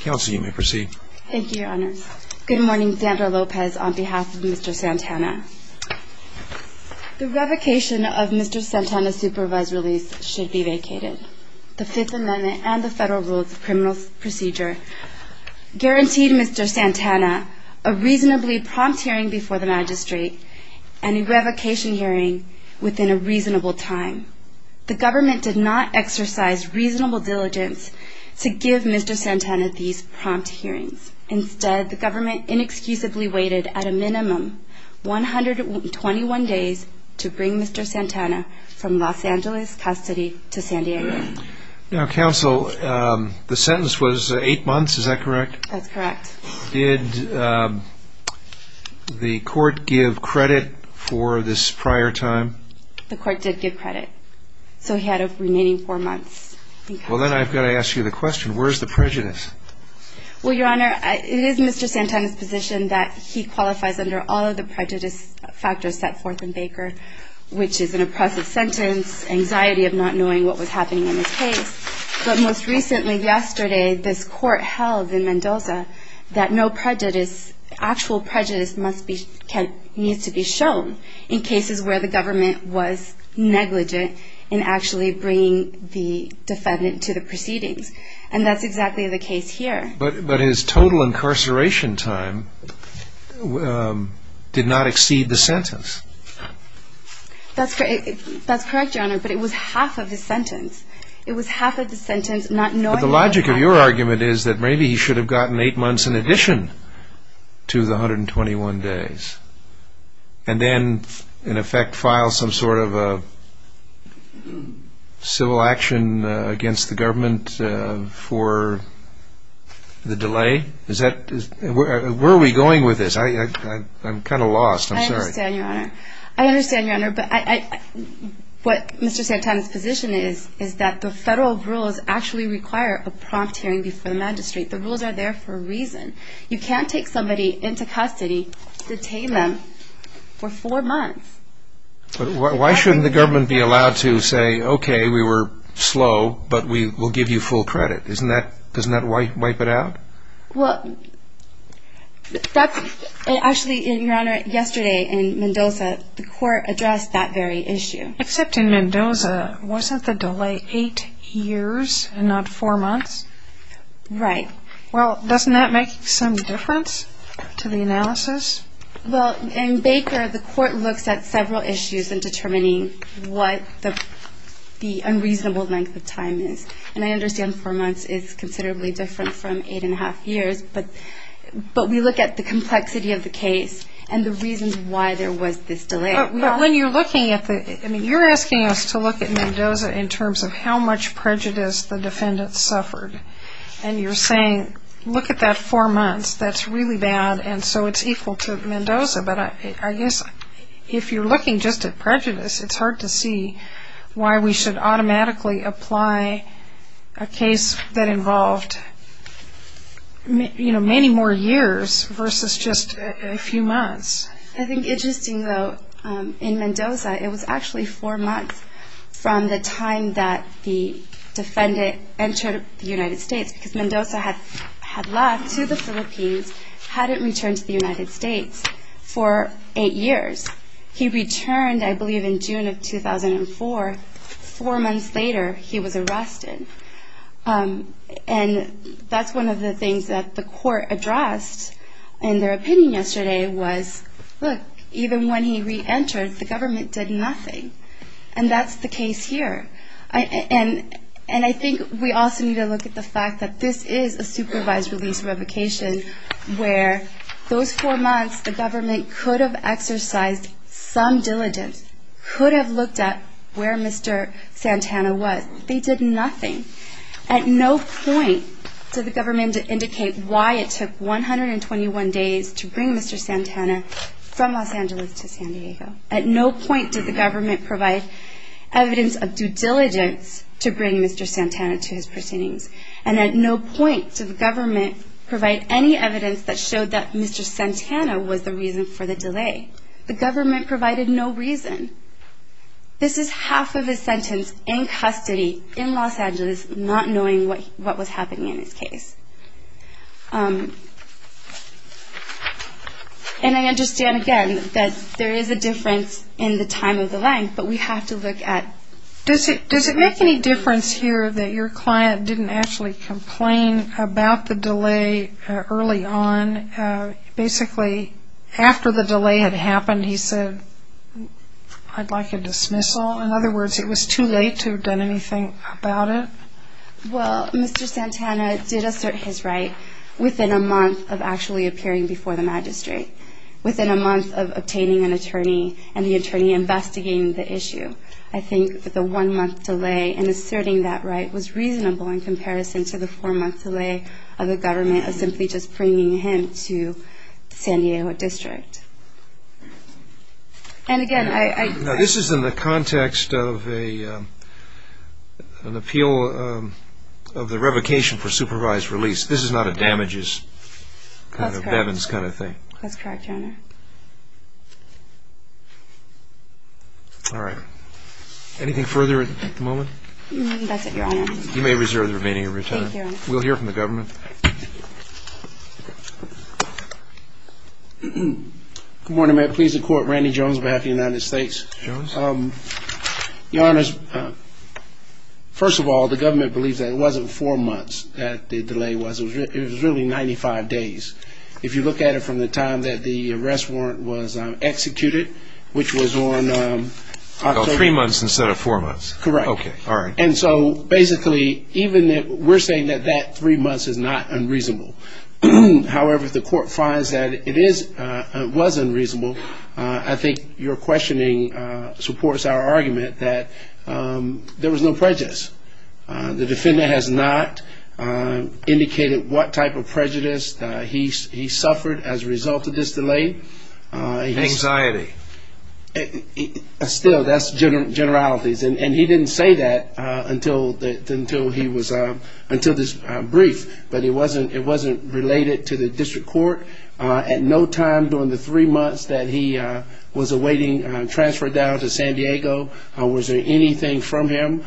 Kelsey, you may proceed. Thank you, your honor. Good morning, Sandra Lopez, on behalf of Mr. Santana. The revocation of Mr. Santana's supervised release should be vacated. The Fifth Amendment and the Federal Rules of Criminal Procedure guaranteed Mr. Santana a reasonably prompt hearing before the magistrate and a revocation hearing within a reasonable time. The government did not exercise reasonable diligence to give Mr. Santana these prompt hearings. Instead, the government inexcusably waited at a minimum 121 days to bring Mr. Santana from Los Angeles custody to San Diego. Now, counsel, the sentence was eight months, is that correct? That's correct. Did the court give credit for this prior time? The court did give credit. So he had a remaining four months. Well, then I've got to ask you the question, where's the prejudice? Well, your honor, it is Mr. Santana's position that he qualifies under all of the prejudice factors set forth in Baker, which is an oppressive sentence, anxiety of not knowing what was happening in his case. But most recently, yesterday, this court held in Mendoza that no prejudice, actual prejudice, needs to be shown in cases where the government was negligent in actually bringing the defendant to the proceedings. And that's exactly the case here. But his total incarceration time did not exceed the sentence. That's correct, your honor, but it was half of the sentence. It was half of the sentence, not knowing what was happening. But the logic of your argument is that maybe he should have gotten eight months in addition to the 121 days and then, in effect, file some sort of a civil action against the government for the delay. Where are we going with this? I'm kind of lost, I'm sorry. I understand, your honor. I understand, your honor, but what Mr. Santana's position is, is that the federal rules actually require a prompt hearing before the magistrate. The rules are there for a reason. You can't take somebody into custody, detain them for four months. Why shouldn't the government be allowed to say, okay, we were slow, but we will give you full credit? Doesn't that wipe it out? Well, actually, your honor, yesterday in Mendoza, the court addressed that very issue. Except in Mendoza, wasn't the delay eight years and not four months? Right. Well, doesn't that make some difference to the analysis? Well, in Baker, the court looks at several issues in determining what the unreasonable length of time is. And I understand four months is considerably different from eight and a half years, but we look at the complexity of the case and the reasons why there was this delay. But when you're looking at the, I mean, you're asking us to look at Mendoza in terms of how much prejudice the defendant suffered. And you're saying, look at that four months, that's really bad, and so it's equal to Mendoza. But I guess if you're looking just at prejudice, it's hard to see why we should automatically apply a case that involved, you know, many more years versus just a few months. I think interesting, though, in Mendoza, it was actually four months from the time that the defendant entered the United States, because Mendoza had left to the Philippines, hadn't returned to the United States. For eight years. He returned, I believe, in June of 2004. Four months later, he was arrested. And that's one of the things that the court addressed in their opinion yesterday was, look, even when he reentered, the government did nothing. And that's the case here. And I think we also need to look at the fact that this is a supervised release revocation, where those four months the government could have exercised some diligence, could have looked at where Mr. Santana was. They did nothing. At no point did the government indicate why it took 121 days to bring Mr. Santana from Los Angeles to San Diego. At no point did the government provide evidence of due diligence to bring Mr. Santana to his proceedings. And at no point did the government provide any evidence that showed that Mr. Santana was the reason for the delay. The government provided no reason. This is half of his sentence in custody in Los Angeles, not knowing what was happening in his case. And I understand, again, that there is a difference in the time of the length, Does it make any difference here that your client didn't actually complain about the delay early on? Basically, after the delay had happened, he said, I'd like a dismissal. In other words, it was too late to have done anything about it? Well, Mr. Santana did assert his right within a month of actually appearing before the magistrate, within a month of obtaining an attorney and the attorney investigating the issue. I think that the one-month delay in asserting that right was reasonable in comparison to the four-month delay of the government of simply just bringing him to the San Diego district. And again, I Now, this is in the context of an appeal of the revocation for supervised release. This is not a damages kind of thing. That's correct, Your Honor. All right. Anything further at the moment? That's it, Your Honor. You may reserve the remaining of your time. Thank you, Your Honor. We'll hear from the government. Good morning. May it please the Court. Randy Jones on behalf of the United States. Jones. Your Honors, first of all, the government believes that it wasn't four months that the delay was. It was really 95 days. If you look at it from the time that the arrest warrant was executed, which was on October Three months instead of four months. Correct. Okay. All right. And so basically, even if we're saying that that three months is not unreasonable, however, if the court finds that it is, it was unreasonable, I think your questioning supports our argument that there was no prejudice. The defendant has not indicated what type of prejudice he suffered as a result of this delay. Anxiety. Still, that's generalities. And he didn't say that until this brief. But it wasn't related to the district court. At no time during the three months that he was awaiting transfer down to San Diego was there anything from him.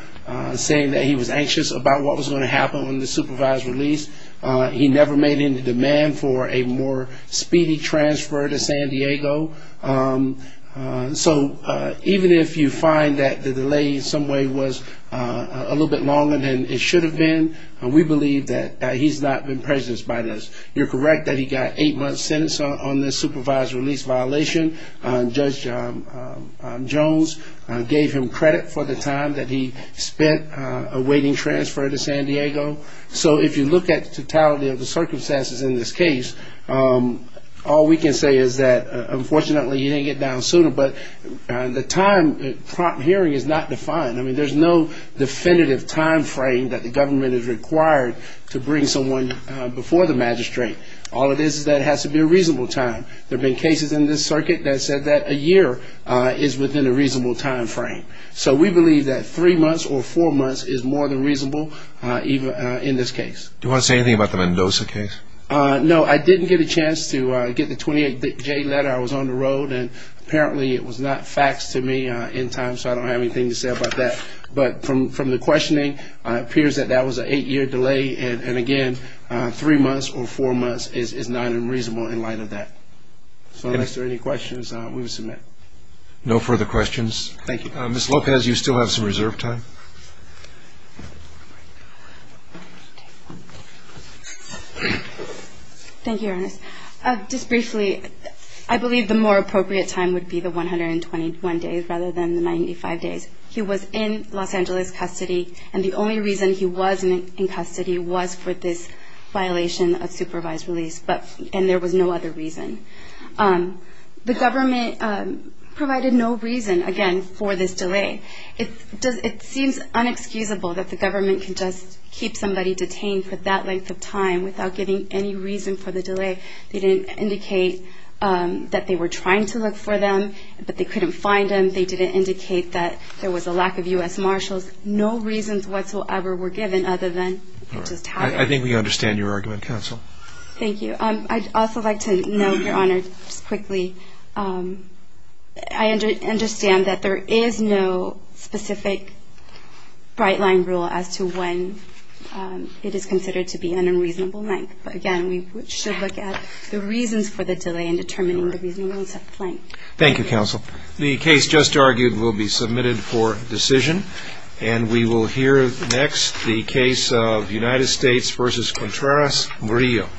Saying that he was anxious about what was going to happen on the supervised release. He never made any demand for a more speedy transfer to San Diego. So even if you find that the delay in some way was a little bit longer than it should have been, we believe that he's not been prejudiced by this. You're correct that he got eight months sentence on this supervised release violation. Judge Jones gave him credit for the time that he spent awaiting transfer to San Diego. So if you look at the totality of the circumstances in this case, all we can say is that, unfortunately, he didn't get down sooner, but the time prompt hearing is not defined. I mean, there's no definitive time frame that the government is required to bring someone before the magistrate. All it is is that it has to be a reasonable time. There have been cases in this circuit that said that a year is within a reasonable time frame. So we believe that three months or four months is more than reasonable in this case. Do you want to say anything about the Mendoza case? No, I didn't get a chance to get the 28-J letter. I was on the road, and apparently it was not faxed to me in time, so I don't have anything to say about that. But from the questioning, it appears that that was an eight-year delay. And again, three months or four months is not unreasonable in light of that. So unless there are any questions, we will submit. No further questions. Thank you. Ms. Lopez, you still have some reserve time. Thank you, Your Honor. Just briefly, I believe the more appropriate time would be the 121 days rather than the 95 days. He was in Los Angeles custody, and the only reason he was in custody was for this violation of supervised release, and there was no other reason. The government provided no reason, again, for this delay. It seems unexcusable that the government can just keep somebody detained for that length of time without giving any reason for the delay. They didn't indicate that they were trying to look for them, but they couldn't find them. They didn't indicate that there was a lack of U.S. Marshals. No reasons whatsoever were given other than it just happened. I think we understand your argument, Counsel. Thank you. I'd also like to note, Your Honor, just quickly, I understand that there is no specific bright-line rule as to when it is considered to be an unreasonable length. But again, we should look at the reasons for the delay in determining the reasonable length. Thank you, Counsel. The case just argued will be submitted for decision, and we will hear next the case of United States v. Contreras-Grillo.